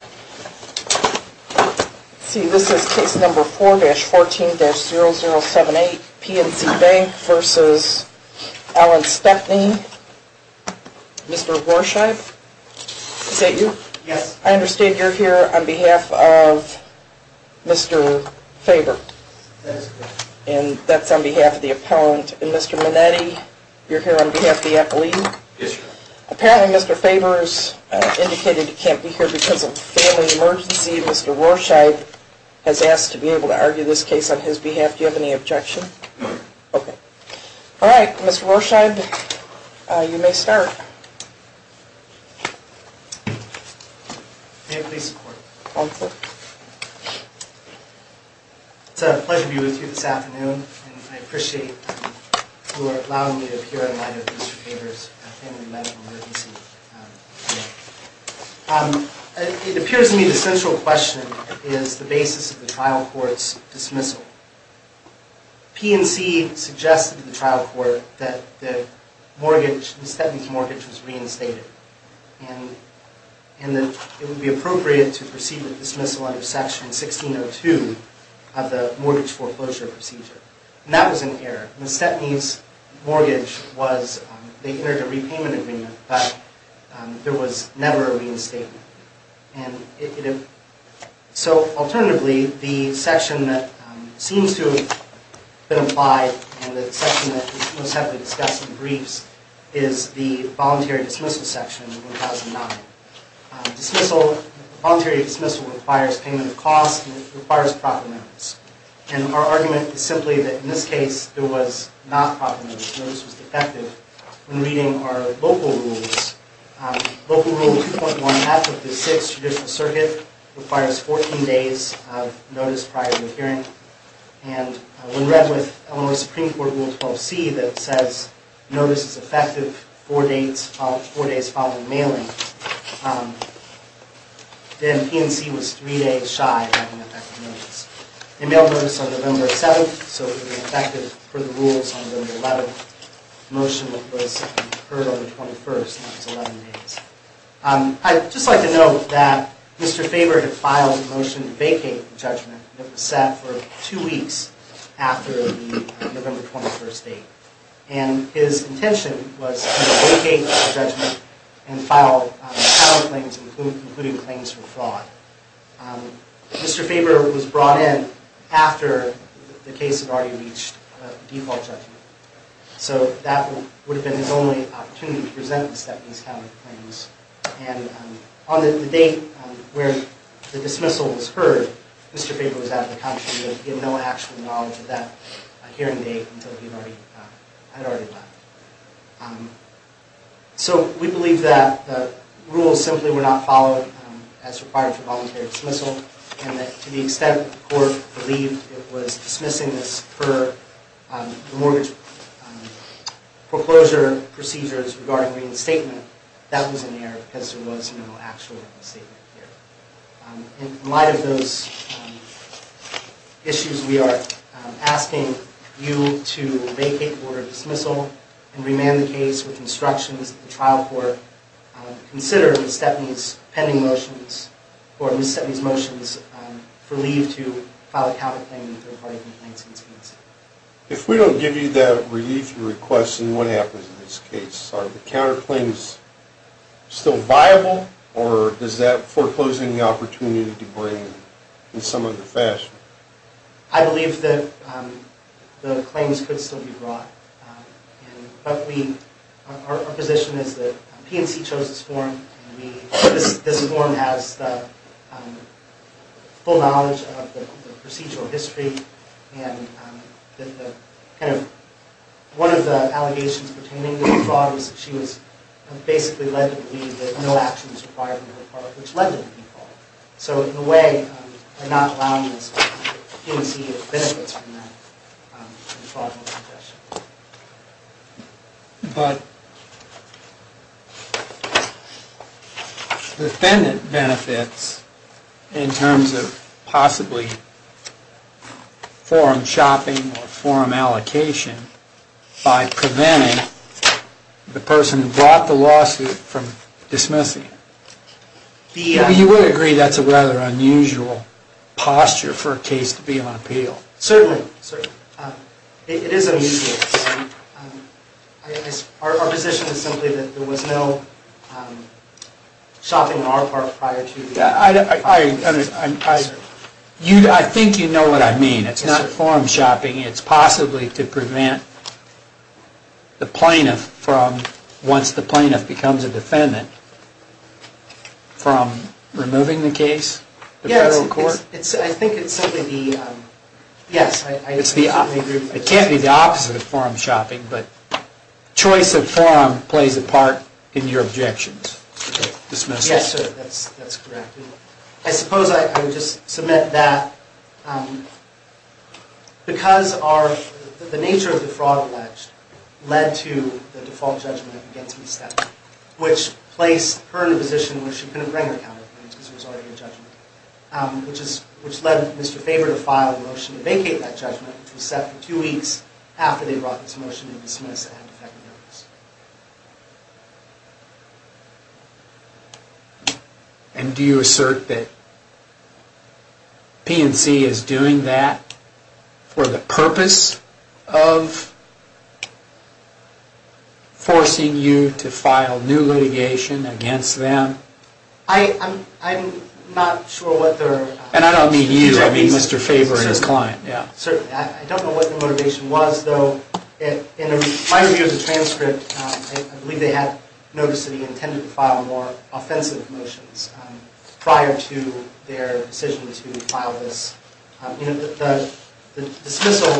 Mr. Gorsheib, is that you? Yes. I understand you're here on behalf of Mr. Faber. That is correct. And that's on behalf of the appellant. And Mr. Minetti, you're here on behalf of the appellee? Yes, sir. Apparently Mr. Faber has indicated he can't be here because of a family emergency. Mr. Gorsheib has asked to be able to argue this case on his behalf. Do you have any objection? No. Okay. Alright, Mr. Gorsheib, you may start. May I please support? Go ahead, sir. It's a pleasure to be with you this afternoon, and I appreciate your allowing me to appear in light of Mr. Faber's family medical emergency. It appears to me the central question is the basis of the trial court's dismissal. PNC suggested to the trial court that the mortgage, Ms. Stepney's mortgage was reinstated, and that it would be appropriate to proceed with dismissal under Section 1602 of the Mortgage Foreclosure Procedure. And that was an error. Ms. Stepney's mortgage was, they entered a repayment agreement, but there was never a reinstatement. So, alternatively, the section that seems to have been applied, and the section that was most heavily discussed in the briefs, is the voluntary dismissal section of 1009. Voluntary dismissal requires payment of costs and it requires proper notice. And our argument is simply that in this case, there was not proper notice. Notice was defective. When reading our local rules, Local Rule 2.1, as of the 6th Judicial Circuit, requires 14 days of notice prior to the hearing. And when read with Illinois Supreme Court Rule 12c that says notice is effective four days following mailing, then PNC was three days shy of having effective notice. They mailed notice on November 7th, so it would be effective per the rules on November 11th. Motion was heard on the 21st, and that was 11 days. I'd just like to note that Mr. Faber had filed a motion to vacate the judgment that was set for two weeks after the November 21st date. And his intention was to vacate the judgment and file counterclaims, including claims for fraud. Mr. Faber was brought in after the case had already reached default judgment. So that would have been his only opportunity to present these counterclaims. And on the date where the dismissal was heard, Mr. Faber was out of the country. He had no actual knowledge of that hearing date until he had already left. So we believe that the rules simply were not followed as required for voluntary dismissal, and that to the extent the court believed it was dismissing this per the mortgage proclosure procedures regarding reinstatement, that was an error because there was no actual reinstatement here. In light of those issues, we are asking you to vacate the order of dismissal and remand the case with instructions that the trial court consider Ms. Stepney's pending motions or Ms. Stepney's motions for leave to file a counterclaim in third-party complaints against him. If we don't give you that relief request, then what happens in this case? Are the counterclaims still viable, or does that foreclose any opportunity to bring in some other fashion? I believe that the claims could still be brought, but our position is that PNC chose this form. This form has the full knowledge of the procedural history, and one of the allegations pertaining to the fraud was that she was basically led to believe that no action was required on her part, which led to the default. So in a way, we're not allowing this, but the PNC benefits from that. The defendant benefits in terms of possibly forum shopping or forum allocation by preventing the person who brought the lawsuit from dismissing it. You would agree that's a rather unusual posture for a case to be on appeal. Certainly. It is unusual. Our position is simply that there was no shopping on our part prior to this. I think you know what I mean. It's not forum shopping. It's possibly to prevent the plaintiff from, once the plaintiff becomes a defendant, from removing the case to federal court. It can't be the opposite of forum shopping, but choice of forum plays a part in your objections to the dismissal. Yes, sir, that's correct. I suppose I would just submit that because the nature of the fraud alleged led to the default judgment against me, which placed her in a position where she couldn't bring her counterclaims because there was already a judgment, which led Mr. Faber to file a motion to vacate that judgment, which was set for two weeks after they brought this motion to dismiss the defendant. And do you assert that PNC is doing that for the purpose of forcing you to file new litigation against them? I'm not sure what their... And I don't mean you. I mean Mr. Faber and his client. Certainly. I don't know what their motivation was, though. In my review of the transcript, I believe they had noticed that he intended to file more offensive motions prior to their decision to file this. The dismissal,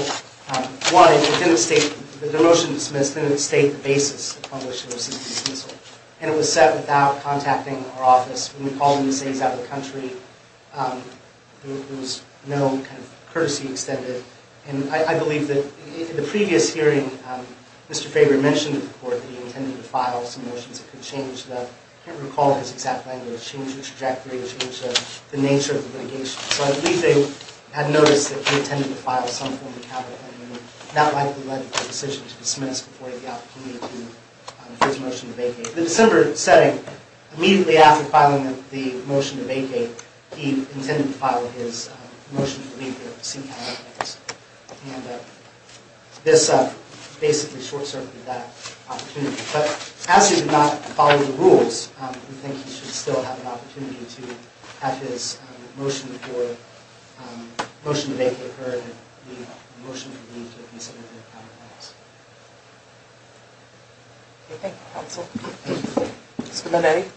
one, it didn't state... The motion dismissed didn't state the basis of the publication of the dismissal. And it was set without contacting our office. When we called them to say he's out of the country, there was no kind of courtesy extended. And I believe that in the previous hearing, Mr. Faber mentioned to the court that he intended to file some motions that could change the... I can't recall his exact language, change the trajectory, change the nature of the litigation. So I believe they had noticed that he intended to file some form of capital enemy, and that likely led to the decision to dismiss before he had the opportunity for his motion to vacate. In the December setting, immediately after filing the motion to vacate, he intended to file his motion to leave the scene. And this basically short-circuited that opportunity. But as he did not follow the rules, we think he should still have an opportunity to have his motion to vacate heard and that the motion to leave should be submitted to our office. Thank you, counsel. Mr. Minetti.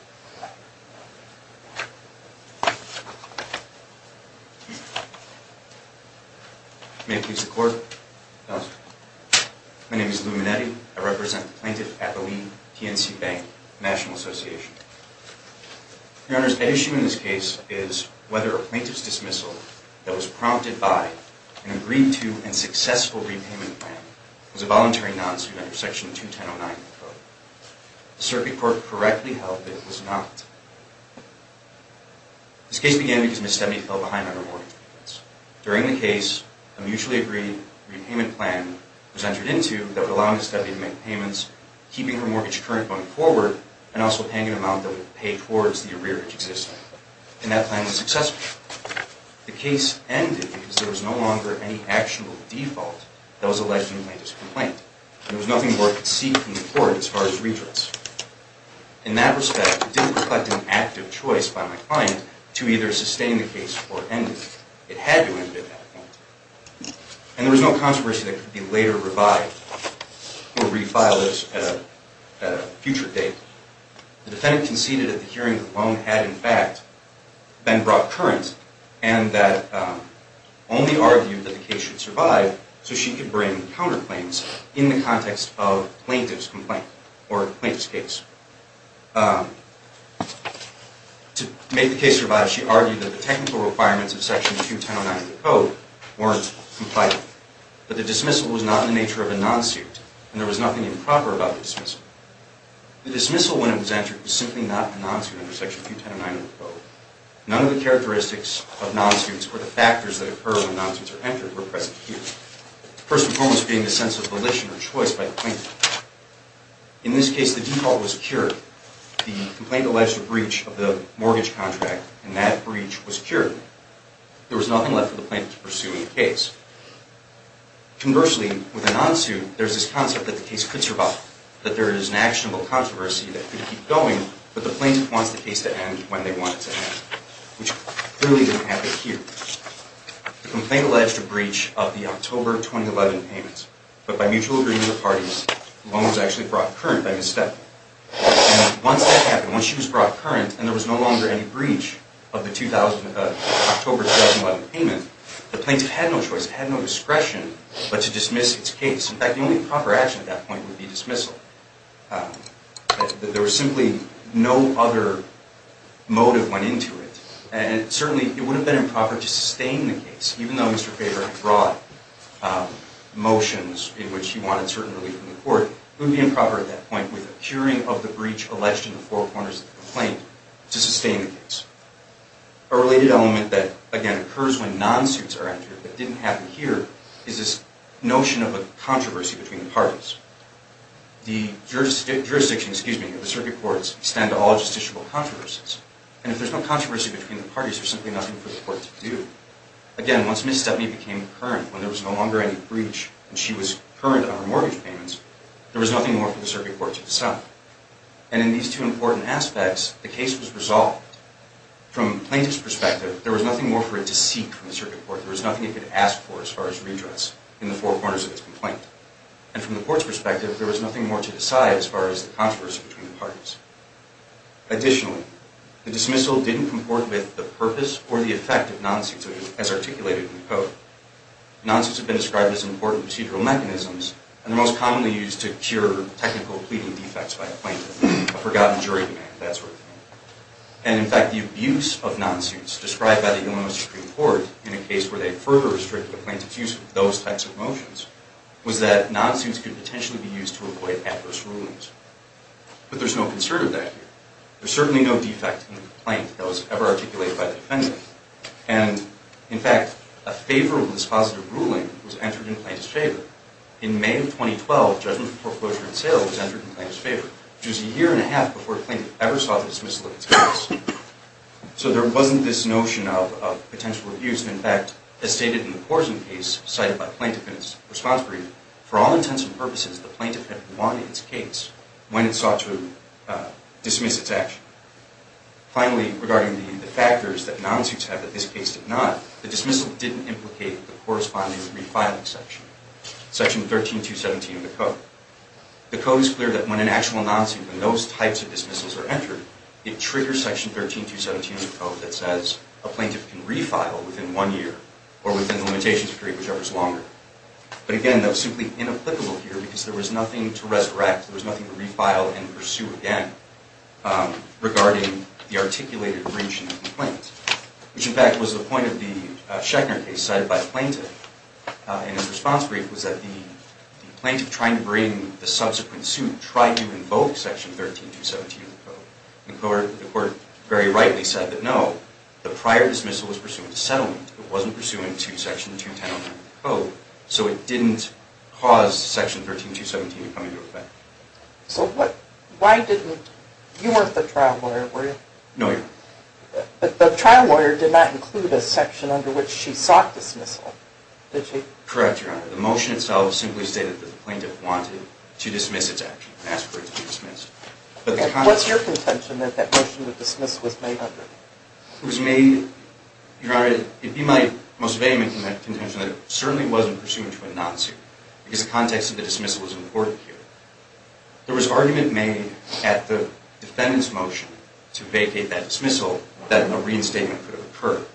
May it please the court. My name is Lou Minetti. I represent the plaintiff at the Lee TNC Bank National Association. Your Honor, the issue in this case is whether a plaintiff's dismissal that was prompted by an agreed-to and successful repayment plan was a voluntary non-suit under Section 2109 of the Code. The Circuit Court correctly held that it was not. This case began because Ms. Stebney fell behind on her mortgage payments. During the case, a mutually agreed repayment plan was entered into that would allow Ms. Stebney to make payments, keeping her mortgage current going forward, and also paying an amount that would pay towards the arrearage existing. And that plan was successful. The case ended because there was no longer any actionable default that was alleged in the plaintiff's complaint. There was nothing more I could seek from the court as far as retorts. In that respect, it didn't reflect an active choice by my client to either sustain the case or end it. It had to end at that point. And there was no controversy that could be later revived or refiled at a future date. The defendant conceded that the hearing alone had, in fact, been brought current and that only argued that the case should survive so she could bring counterclaims in the context of the plaintiff's complaint or plaintiff's case. To make the case survive, she argued that the technical requirements of Section 2109 of the Code weren't compliant. But the dismissal was not in the nature of a non-suit, and there was nothing improper about the dismissal. The dismissal, when it was entered, was simply not a non-suit under Section 2109 of the Code. None of the characteristics of non-suits or the factors that occur when non-suits are entered were present here. First and foremost being the sense of volition or choice by the plaintiff. In this case, the default was cured. The complaint alleged a breach of the mortgage contract, and that breach was cured. There was nothing left for the plaintiff to pursue in the case. Conversely, with a non-suit, there's this concept that the case could survive, that there is an actionable controversy that could keep going, but the plaintiff wants the case to end when they want it to end, which clearly didn't happen here. The complaint alleged a breach of the October 2011 payment. But by mutual agreement of parties, the loan was actually brought current by Ms. Steppen. And once that happened, once she was brought current, and there was no longer any breach of the October 2011 payment, the plaintiff had no choice, had no discretion, but to dismiss its case. In fact, the only proper action at that point would be dismissal. There was simply no other motive went into it. And certainly, it would have been improper to sustain the case, even though Mr. Faber had brought motions in which he wanted certain relief from the court. It would be improper at that point, with a curing of the breach alleged in the four corners of the complaint, to sustain the case. A related element that, again, occurs when non-suits are entered, but didn't happen here, is this notion of a controversy between the parties. The jurisdiction of the circuit courts extend to all justiciable controversies. And if there's no controversy between the parties, there's simply nothing for the court to do. Again, once Ms. Steppen became current, when there was no longer any breach, and she was current on her mortgage payments, there was nothing more for the circuit courts to decide. And in these two important aspects, the case was resolved. From the plaintiff's perspective, there was nothing more for it to seek from the circuit court. There was nothing it could ask for as far as redress in the four corners of its complaint. And from the court's perspective, there was nothing more to decide as far as the controversy between the parties. Additionally, the dismissal didn't comport with the purpose or the effect of non-suits as articulated in the code. Non-suits have been described as important procedural mechanisms, and they're most commonly used to cure technical pleading defects by a plaintiff, a forgotten jury demand, that sort of thing. And in fact, the abuse of non-suits, described by the Illinois Supreme Court in a case where they further restricted the plaintiff's use of those types of motions, was that non-suits could potentially be used to avoid adverse rulings. But there's no concern of that here. There's certainly no defect in the complaint that was ever articulated by the defendant. And in fact, a favor of dispositive ruling was entered in the plaintiff's favor. In May of 2012, judgment for foreclosure and sale was entered in the plaintiff's favor, which was a year and a half before the plaintiff ever saw the dismissal of his case. So there wasn't this notion of potential abuse. And in fact, as stated in the Porzing case, cited by the plaintiff in its response brief, for all intents and purposes, the plaintiff had won its case when it sought to dismiss its action. Finally, regarding the factors that non-suits have that this case did not, the dismissal didn't implicate the corresponding refiling section, Section 13217 of the Code. The Code is clear that when an actual non-suit, when those types of dismissals are entered, it triggers Section 13217 of the Code that says a plaintiff can refile within one year, or within the limitations period, whichever is longer. But again, that was simply inapplicable here because there was nothing to resurrect, there was nothing to refile and pursue again, regarding the articulated breach in the complaint, which in fact was the point of the Schechner case cited by the plaintiff. And its response brief was that the plaintiff, trying to bring the subsequent suit, tried to invoke Section 13217 of the Code. The court very rightly said that no, the prior dismissal was pursuant to settlement. It wasn't pursuant to Section 210 of the Code, so it didn't cause Section 13217 to come into effect. So what, why didn't, you weren't the trial lawyer, were you? No, Your Honor. The trial lawyer did not include a section under which she sought dismissal, did she? Correct, Your Honor. The motion itself simply stated that the plaintiff wanted to dismiss its action, and asked for it to be dismissed. What's your contention that that motion to dismiss was made under? It was made, Your Honor, it'd be my most vehement contention that it certainly wasn't pursuant to a non-suit, because the context of the dismissal was important here. There was argument made at the defendant's motion to vacate that dismissal, that a reinstatement could have occurred.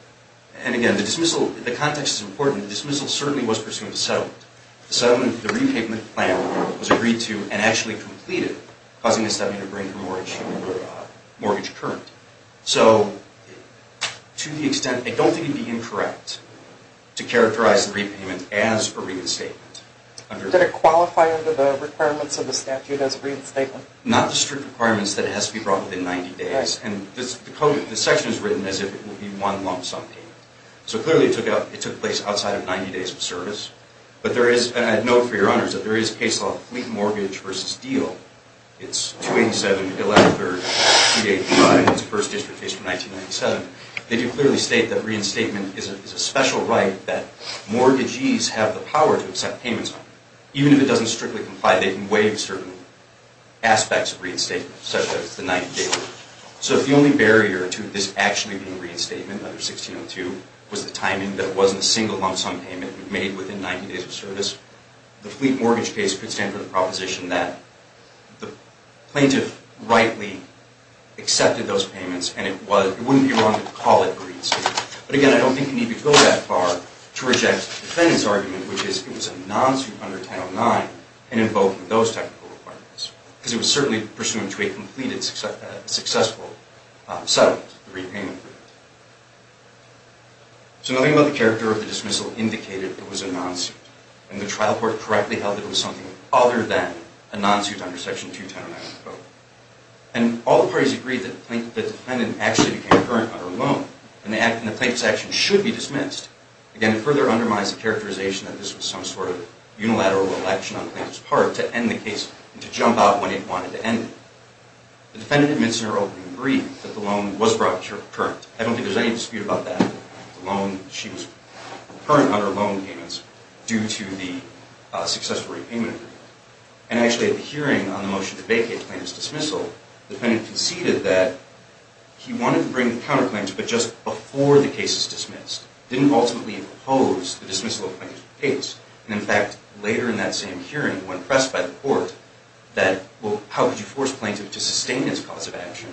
And again, the dismissal, the context is important, the dismissal certainly was pursuant to settlement. The settlement, the repayment plan was agreed to and actually completed, causing the settlement to bring her mortgage current. So, to the extent, I don't think it'd be incorrect to characterize the repayment as a reinstatement. Did it qualify under the requirements of the statute as a reinstatement? Not the strict requirements that it has to be brought within 90 days. And the code, the section is written as if it will be one lump sum payment. So clearly it took place outside of 90 days of service. But there is, and I'd note for Your Honors, that there is a case law of fleet mortgage versus deal. It's 287-113-285. It's the first district case from 1997. They do clearly state that reinstatement is a special right that mortgagees have the power to accept payments on. Even if it doesn't strictly comply, they can waive certain aspects of reinstatement, such as the 90 days. So if the only barrier to this actually being a reinstatement under 1602 was the timing that it wasn't a single lump sum payment made within 90 days of service, the fleet mortgage case could stand for the proposition that the plaintiff rightly accepted those payments and it wouldn't be wrong to call it a reinstatement. But again, I don't think you need to go that far to reject the defendant's argument, which is it was a non-suit under 1009 and in both of those technical requirements. Because it was certainly pursuant to a completed, successful settlement, the repayment. So nothing about the character of the dismissal indicated it was a non-suit. And the trial court correctly held it was something other than a non-suit under Section 2109 of the Code. And all the parties agreed that the defendant actually became a current under loan and the plaintiff's action should be dismissed. Again, it further undermines the characterization that this was some sort of unilateral election on the plaintiff's part to end the case and to jump out when it wanted to end it. The defendant admits in her opening brief that the loan was brought to her current. I don't think there's any dispute about that. The loan, she was current under loan payments due to the successful repayment agreement. And actually at the hearing on the motion to vacate plaintiff's dismissal, the defendant conceded that he wanted to bring the counterclaims but just before the case is dismissed. Didn't ultimately oppose the dismissal of plaintiff's case. And in fact, later in that same hearing, when pressed by the court that, well, how could you force a plaintiff to sustain this cause of action,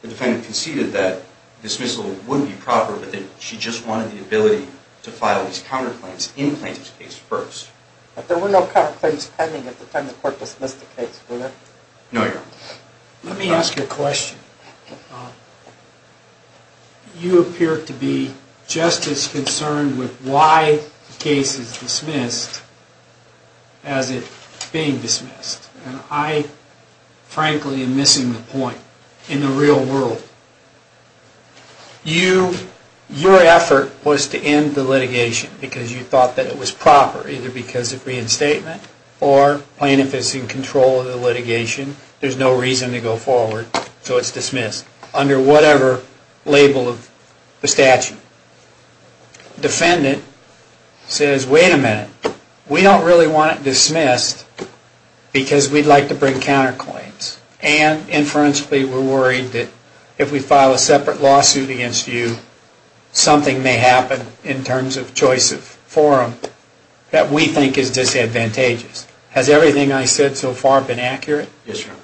the defendant conceded that dismissal would be proper, but that she just wanted the ability to file these counterclaims in plaintiff's case first. But there were no counterclaims pending at the time the court dismissed the case, were there? No, Your Honor. Let me ask you a question. You appear to be just as concerned with why the case is dismissed as it being dismissed. And I, frankly, am missing the point in the real world. Your effort was to end the litigation because you thought that it was proper, either because of reinstatement or plaintiff is in control of the litigation, there's no reason to go forward, so it's dismissed under whatever label of the statute. The defendant says, wait a minute. We don't really want it dismissed because we'd like to bring counterclaims. And inferentially, we're worried that if we file a separate lawsuit against you, something may happen in terms of choice of forum that we think is disadvantageous. Has everything I said so far been accurate? Yes, Your Honor.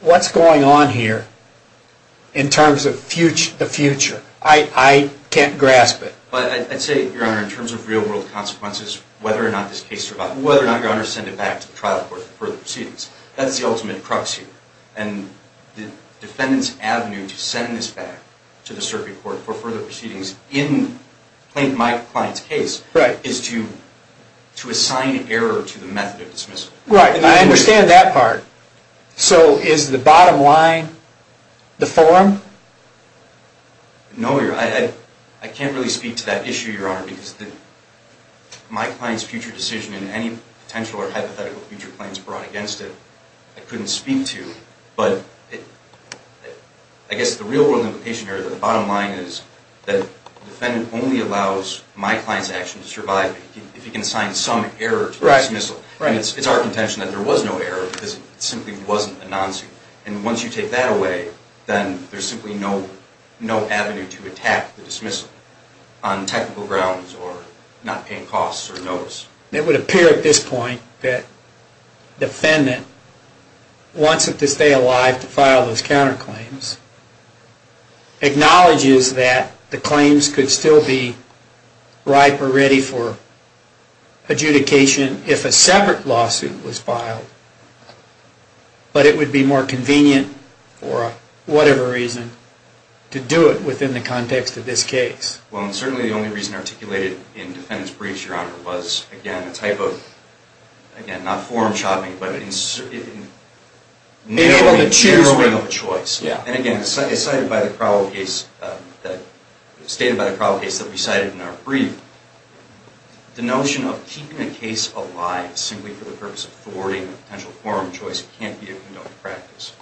What's going on here in terms of the future? I can't grasp it. I'd say, Your Honor, in terms of real world consequences, whether or not this case survives, whether or not Your Honor sends it back to the trial court for further proceedings, that's the ultimate proxy. And the defendant's avenue to send this back to the circuit court for further proceedings in my client's case is to assign error to the method of dismissal. Right, and I understand that part. So is the bottom line the forum? No, Your Honor. I can't really speak to that issue, Your Honor, because my client's future decision and any potential or hypothetical future claims brought against it, I couldn't speak to. But I guess the real world limitation here, the bottom line is that the defendant only allows my client's action to survive if he can assign some error to dismissal. It's our contention that there was no error because it simply wasn't a non-suit. And once you take that away, then there's simply no avenue to attack the dismissal on technical grounds or not paying costs or notice. It would appear at this point that the defendant wants it to stay alive to file those counterclaims, acknowledges that the claims could still be ripe or ready for adjudication if a separate lawsuit was filed, but it would be more convenient for whatever reason to do it within the context of this case. Well, and certainly the only reason articulated in defendant's briefs, Your Honor, was again a type of, again, not forum shopping, but narrowing of choice. And again, as stated by the probable case that we cited in our brief, the notion of keeping a case alive simply for the purpose of thwarting a potential forum choice can't be a condoned practice.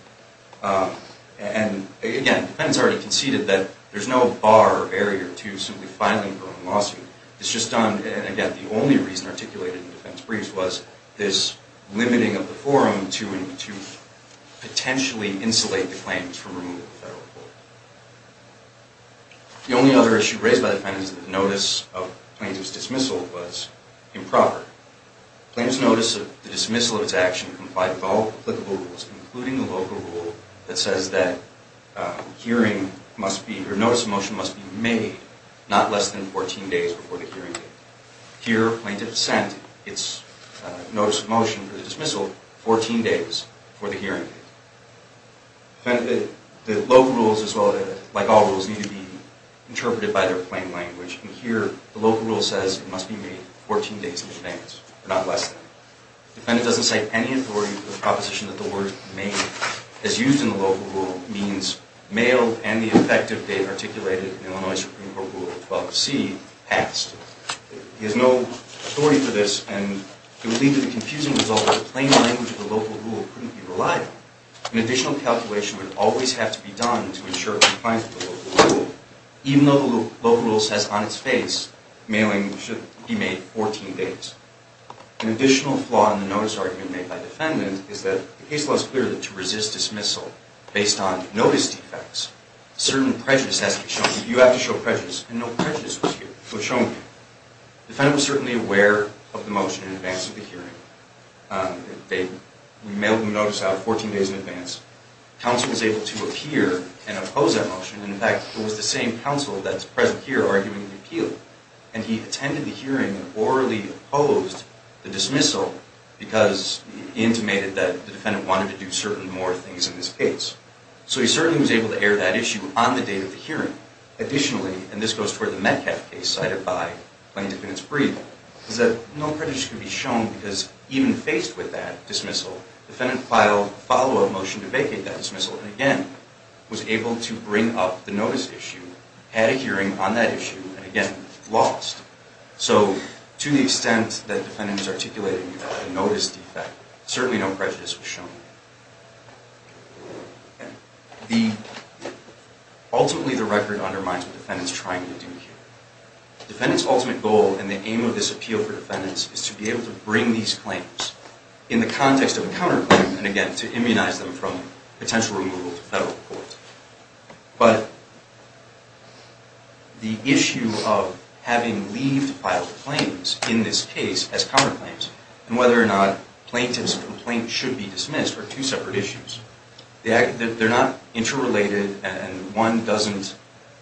And again, the defendant's already conceded that there's no bar or barrier to simply filing for a lawsuit. It's just done, and again, the only reason articulated in the defendant's briefs was this limiting of the forum to potentially insulate the claim to remove the federal court. The only other issue raised by the defendant is that the notice of plaintiff's dismissal was improper. Plaintiff's notice of the dismissal of its action complied with all applicable rules, including the local rule that says that hearing must be, or notice of motion must be made not less than 14 days before the hearing date. Here, plaintiff sent its notice of motion for the dismissal 14 days before the hearing date. The local rules, like all rules, need to be interpreted by their plain language. And here, the local rule says it must be made 14 days in advance, not less than. The defendant doesn't cite any authority for the proposition that the word made is used in the local rule means mail and the effective date articulated in Illinois Supreme Court Rule 12C passed. He has no authority for this, and it would lead to the confusing result that the plain language of the local rule couldn't be relied on. An additional calculation would always have to be done to ensure compliance with the local rule. Even though the local rule says on its face mailing should be made 14 days. An additional flaw in the notice argument made by defendant is that the case law is clear that to resist dismissal based on notice defects, certain prejudice has to be shown. You have to show prejudice. And no prejudice was shown here. Defendant was certainly aware of the motion in advance of the hearing. They mailed the notice out 14 days in advance. Counsel was able to appear and oppose that motion. In fact, it was the same counsel that's present here arguing the appeal. And he attended the hearing and orally opposed the dismissal because he intimated that the defendant wanted to do certain more things in this case. So he certainly was able to air that issue on the date of the hearing. Additionally, and this goes toward the Metcalf case cited by Plain Defendant's brief, is that no prejudice can be shown because even faced with that dismissal, defendant filed a follow-up motion to vacate that dismissal and again was able to bring up the notice issue, had a hearing on that issue, and again lost. So to the extent that defendant is articulating the notice defect, certainly no prejudice was shown. Ultimately, the record undermines what the defendant is trying to do here. Defendant's ultimate goal and the aim of this appeal for defendants is to be able to bring these claims in the context of a counterclaim and again to immunize them from potential removal to federal court. But the issue of having leave to file claims in this case as counterclaims and whether or not plaintiffs' complaints should be dismissed are two separate issues. They're not interrelated and one doesn't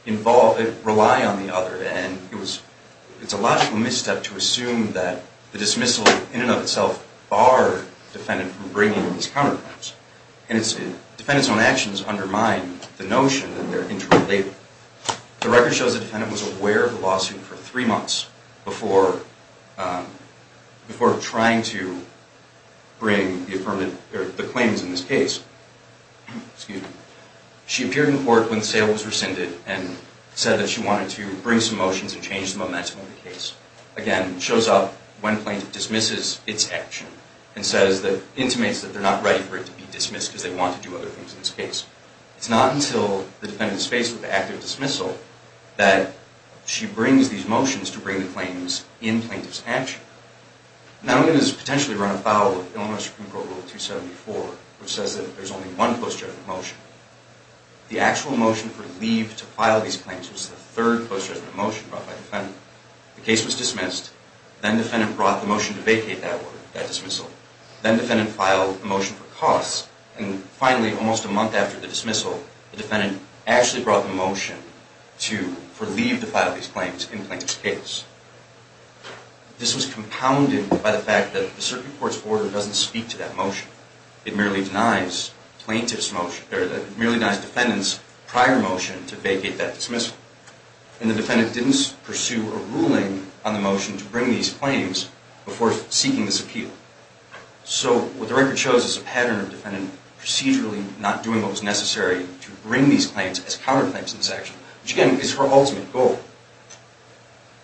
rely on the other. And it's a logical misstep to assume that the dismissal in and of itself barred the defendant from bringing these counterclaims. And defendants' own actions undermine the notion that they're interrelated. The record shows the defendant was aware of the lawsuit for three months before trying to bring the claims in this case. She appeared in court when the sale was rescinded and said that she wanted to bring some motions and change the momentum of the case. Again, it shows up when plaintiff dismisses its action and intimates that they're not ready for it to be dismissed because they want to do other things in this case. It's not until the defendant is faced with the act of dismissal that she brings these motions to bring the claims in plaintiff's action. Not only does this potentially run afoul of Illinois Supreme Court Rule 274, which says that there's only one post-judgment motion, the actual motion for leave to file these claims was the third post-judgment motion brought by the defendant. The case was dismissed. Then the defendant brought the motion to vacate that dismissal. Then the defendant filed a motion for cause. And finally, almost a month after the dismissal, the defendant actually brought the motion to leave to file these claims in plaintiff's case. This was compounded by the fact that the Supreme Court's order doesn't speak to that motion. It merely denies plaintiff's motion. It merely denies defendant's prior motion to vacate that dismissal. And the defendant didn't pursue a ruling on the motion to bring these claims before seeking this appeal. So what the record shows is a pattern of defendant procedurally not doing what was necessary to bring these claims as counterclaims to this action, which, again, is her ultimate goal.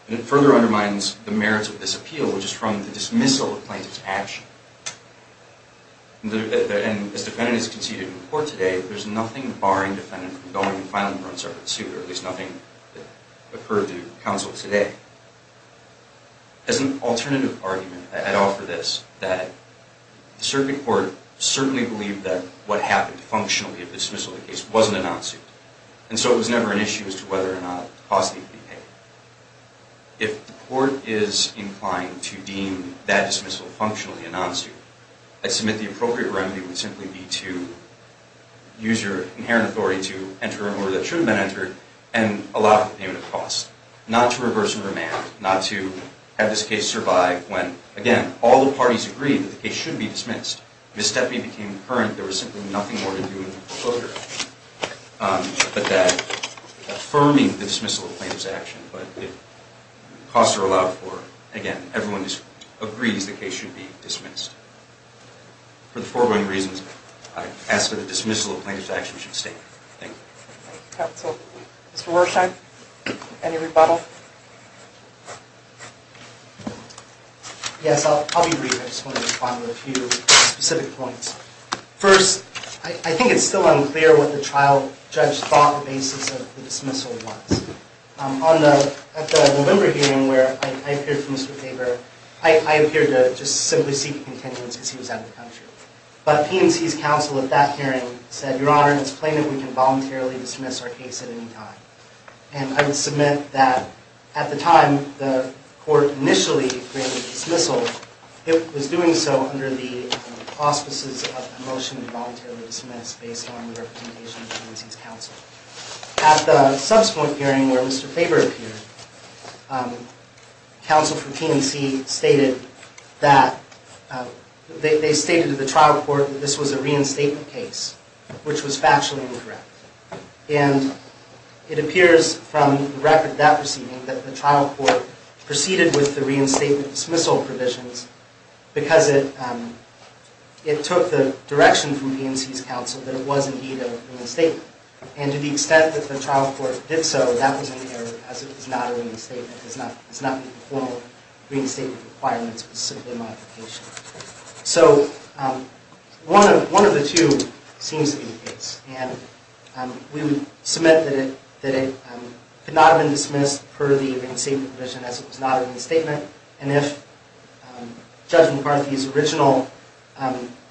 And it further undermines the merits of this appeal, which is from the dismissal of plaintiff's action. And as the defendant is conceded in court today, there's nothing barring the defendant from going and filing her own circuit suit, or at least nothing that occurred to counsel today. As an alternative argument, I'd offer this, that the circuit court certainly believed that what happened functionally at the dismissal of the case wasn't a non-suit. And so it was never an issue as to whether or not the cost of the appeal would be paid. If the court is inclined to deem that dismissal functionally a non-suit, I'd submit the appropriate remedy would simply be to use your inherent authority to enter an order that should have been entered and allow payment of costs. Not to reverse the command, not to have this case survive when, again, all the parties agreed that the case should be dismissed. Ms. Stepney became concurrent. There was simply nothing more to do in the procedure. But that affirming the dismissal of plaintiff's action, but if costs are allowed for it, again, everyone agrees the case should be dismissed. For the foregoing reasons, I ask that the dismissal of plaintiff's action should stay. Thank you. Thank you, counsel. Mr. Worsheim, any rebuttal? Yes, I'll be brief. I just want to respond with a few specific points. First, I think it's still unclear what the trial judge thought the basis of the dismissal was. At the November hearing where I appeared to Mr. Tabor, I appeared to just simply seek a contingency because he was out of the country. But PNC's counsel at that hearing said, Your Honor, it's plain that we can voluntarily dismiss our case at any time. And I would submit that at the time the court initially granted dismissal, it was doing so under the auspices of a motion to voluntarily dismiss based on the representation of PNC's counsel. At the subsequent hearing where Mr. Tabor appeared, counsel for PNC stated that they stated to the trial court that this was a reinstatement case, which was factually incorrect. And it appears from the record of that proceeding that the trial court proceeded with the reinstatement dismissal provisions because it took the direction from PNC's counsel that it was indeed a reinstatement. And to the extent that the trial court did so, that was an error as it was not a reinstatement. It does not meet the formal reinstatement requirements specifically in my application. So one of the two seems to be the case. And we would submit that it could not have been dismissed per the reinstatement provision as it was not a reinstatement. And if Judge McCarthy's original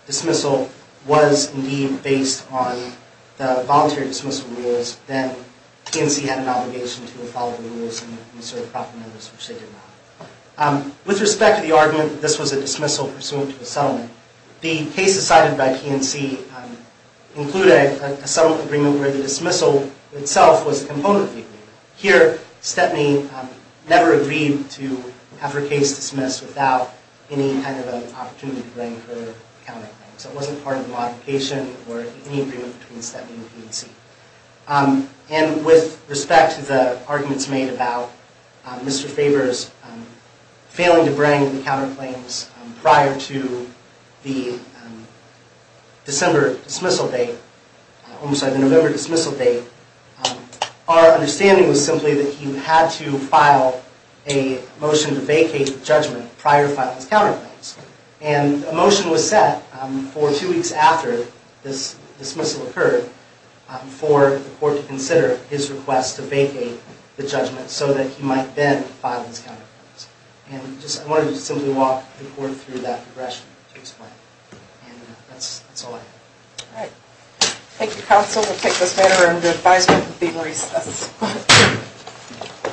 dismissal was indeed based on the voluntary dismissal rules, then PNC had an obligation to follow the rules and serve proper members, which they did not. With respect to the argument that this was a dismissal pursuant to a settlement, the cases cited by PNC included a settlement agreement where the dismissal itself was a component of the agreement. Here, Stepney never agreed to have her case dismissed without any kind of an opportunity to bring her counterclaims. It wasn't part of the modification or any agreement between Stepney and PNC. And with respect to the arguments made about Mr. Faber's failing to bring the counterclaims prior to the November dismissal date, our understanding was simply that he had to file a motion to vacate the judgment prior to filing his counterclaims. And a motion was set for two weeks after this dismissal occurred for the court to consider his request to vacate the judgment so that he might then file his counterclaims. And I wanted to simply walk the court through that progression to explain. And that's all I have. All right. Thank you, counsel. We'll take this matter under advisement for being recessed.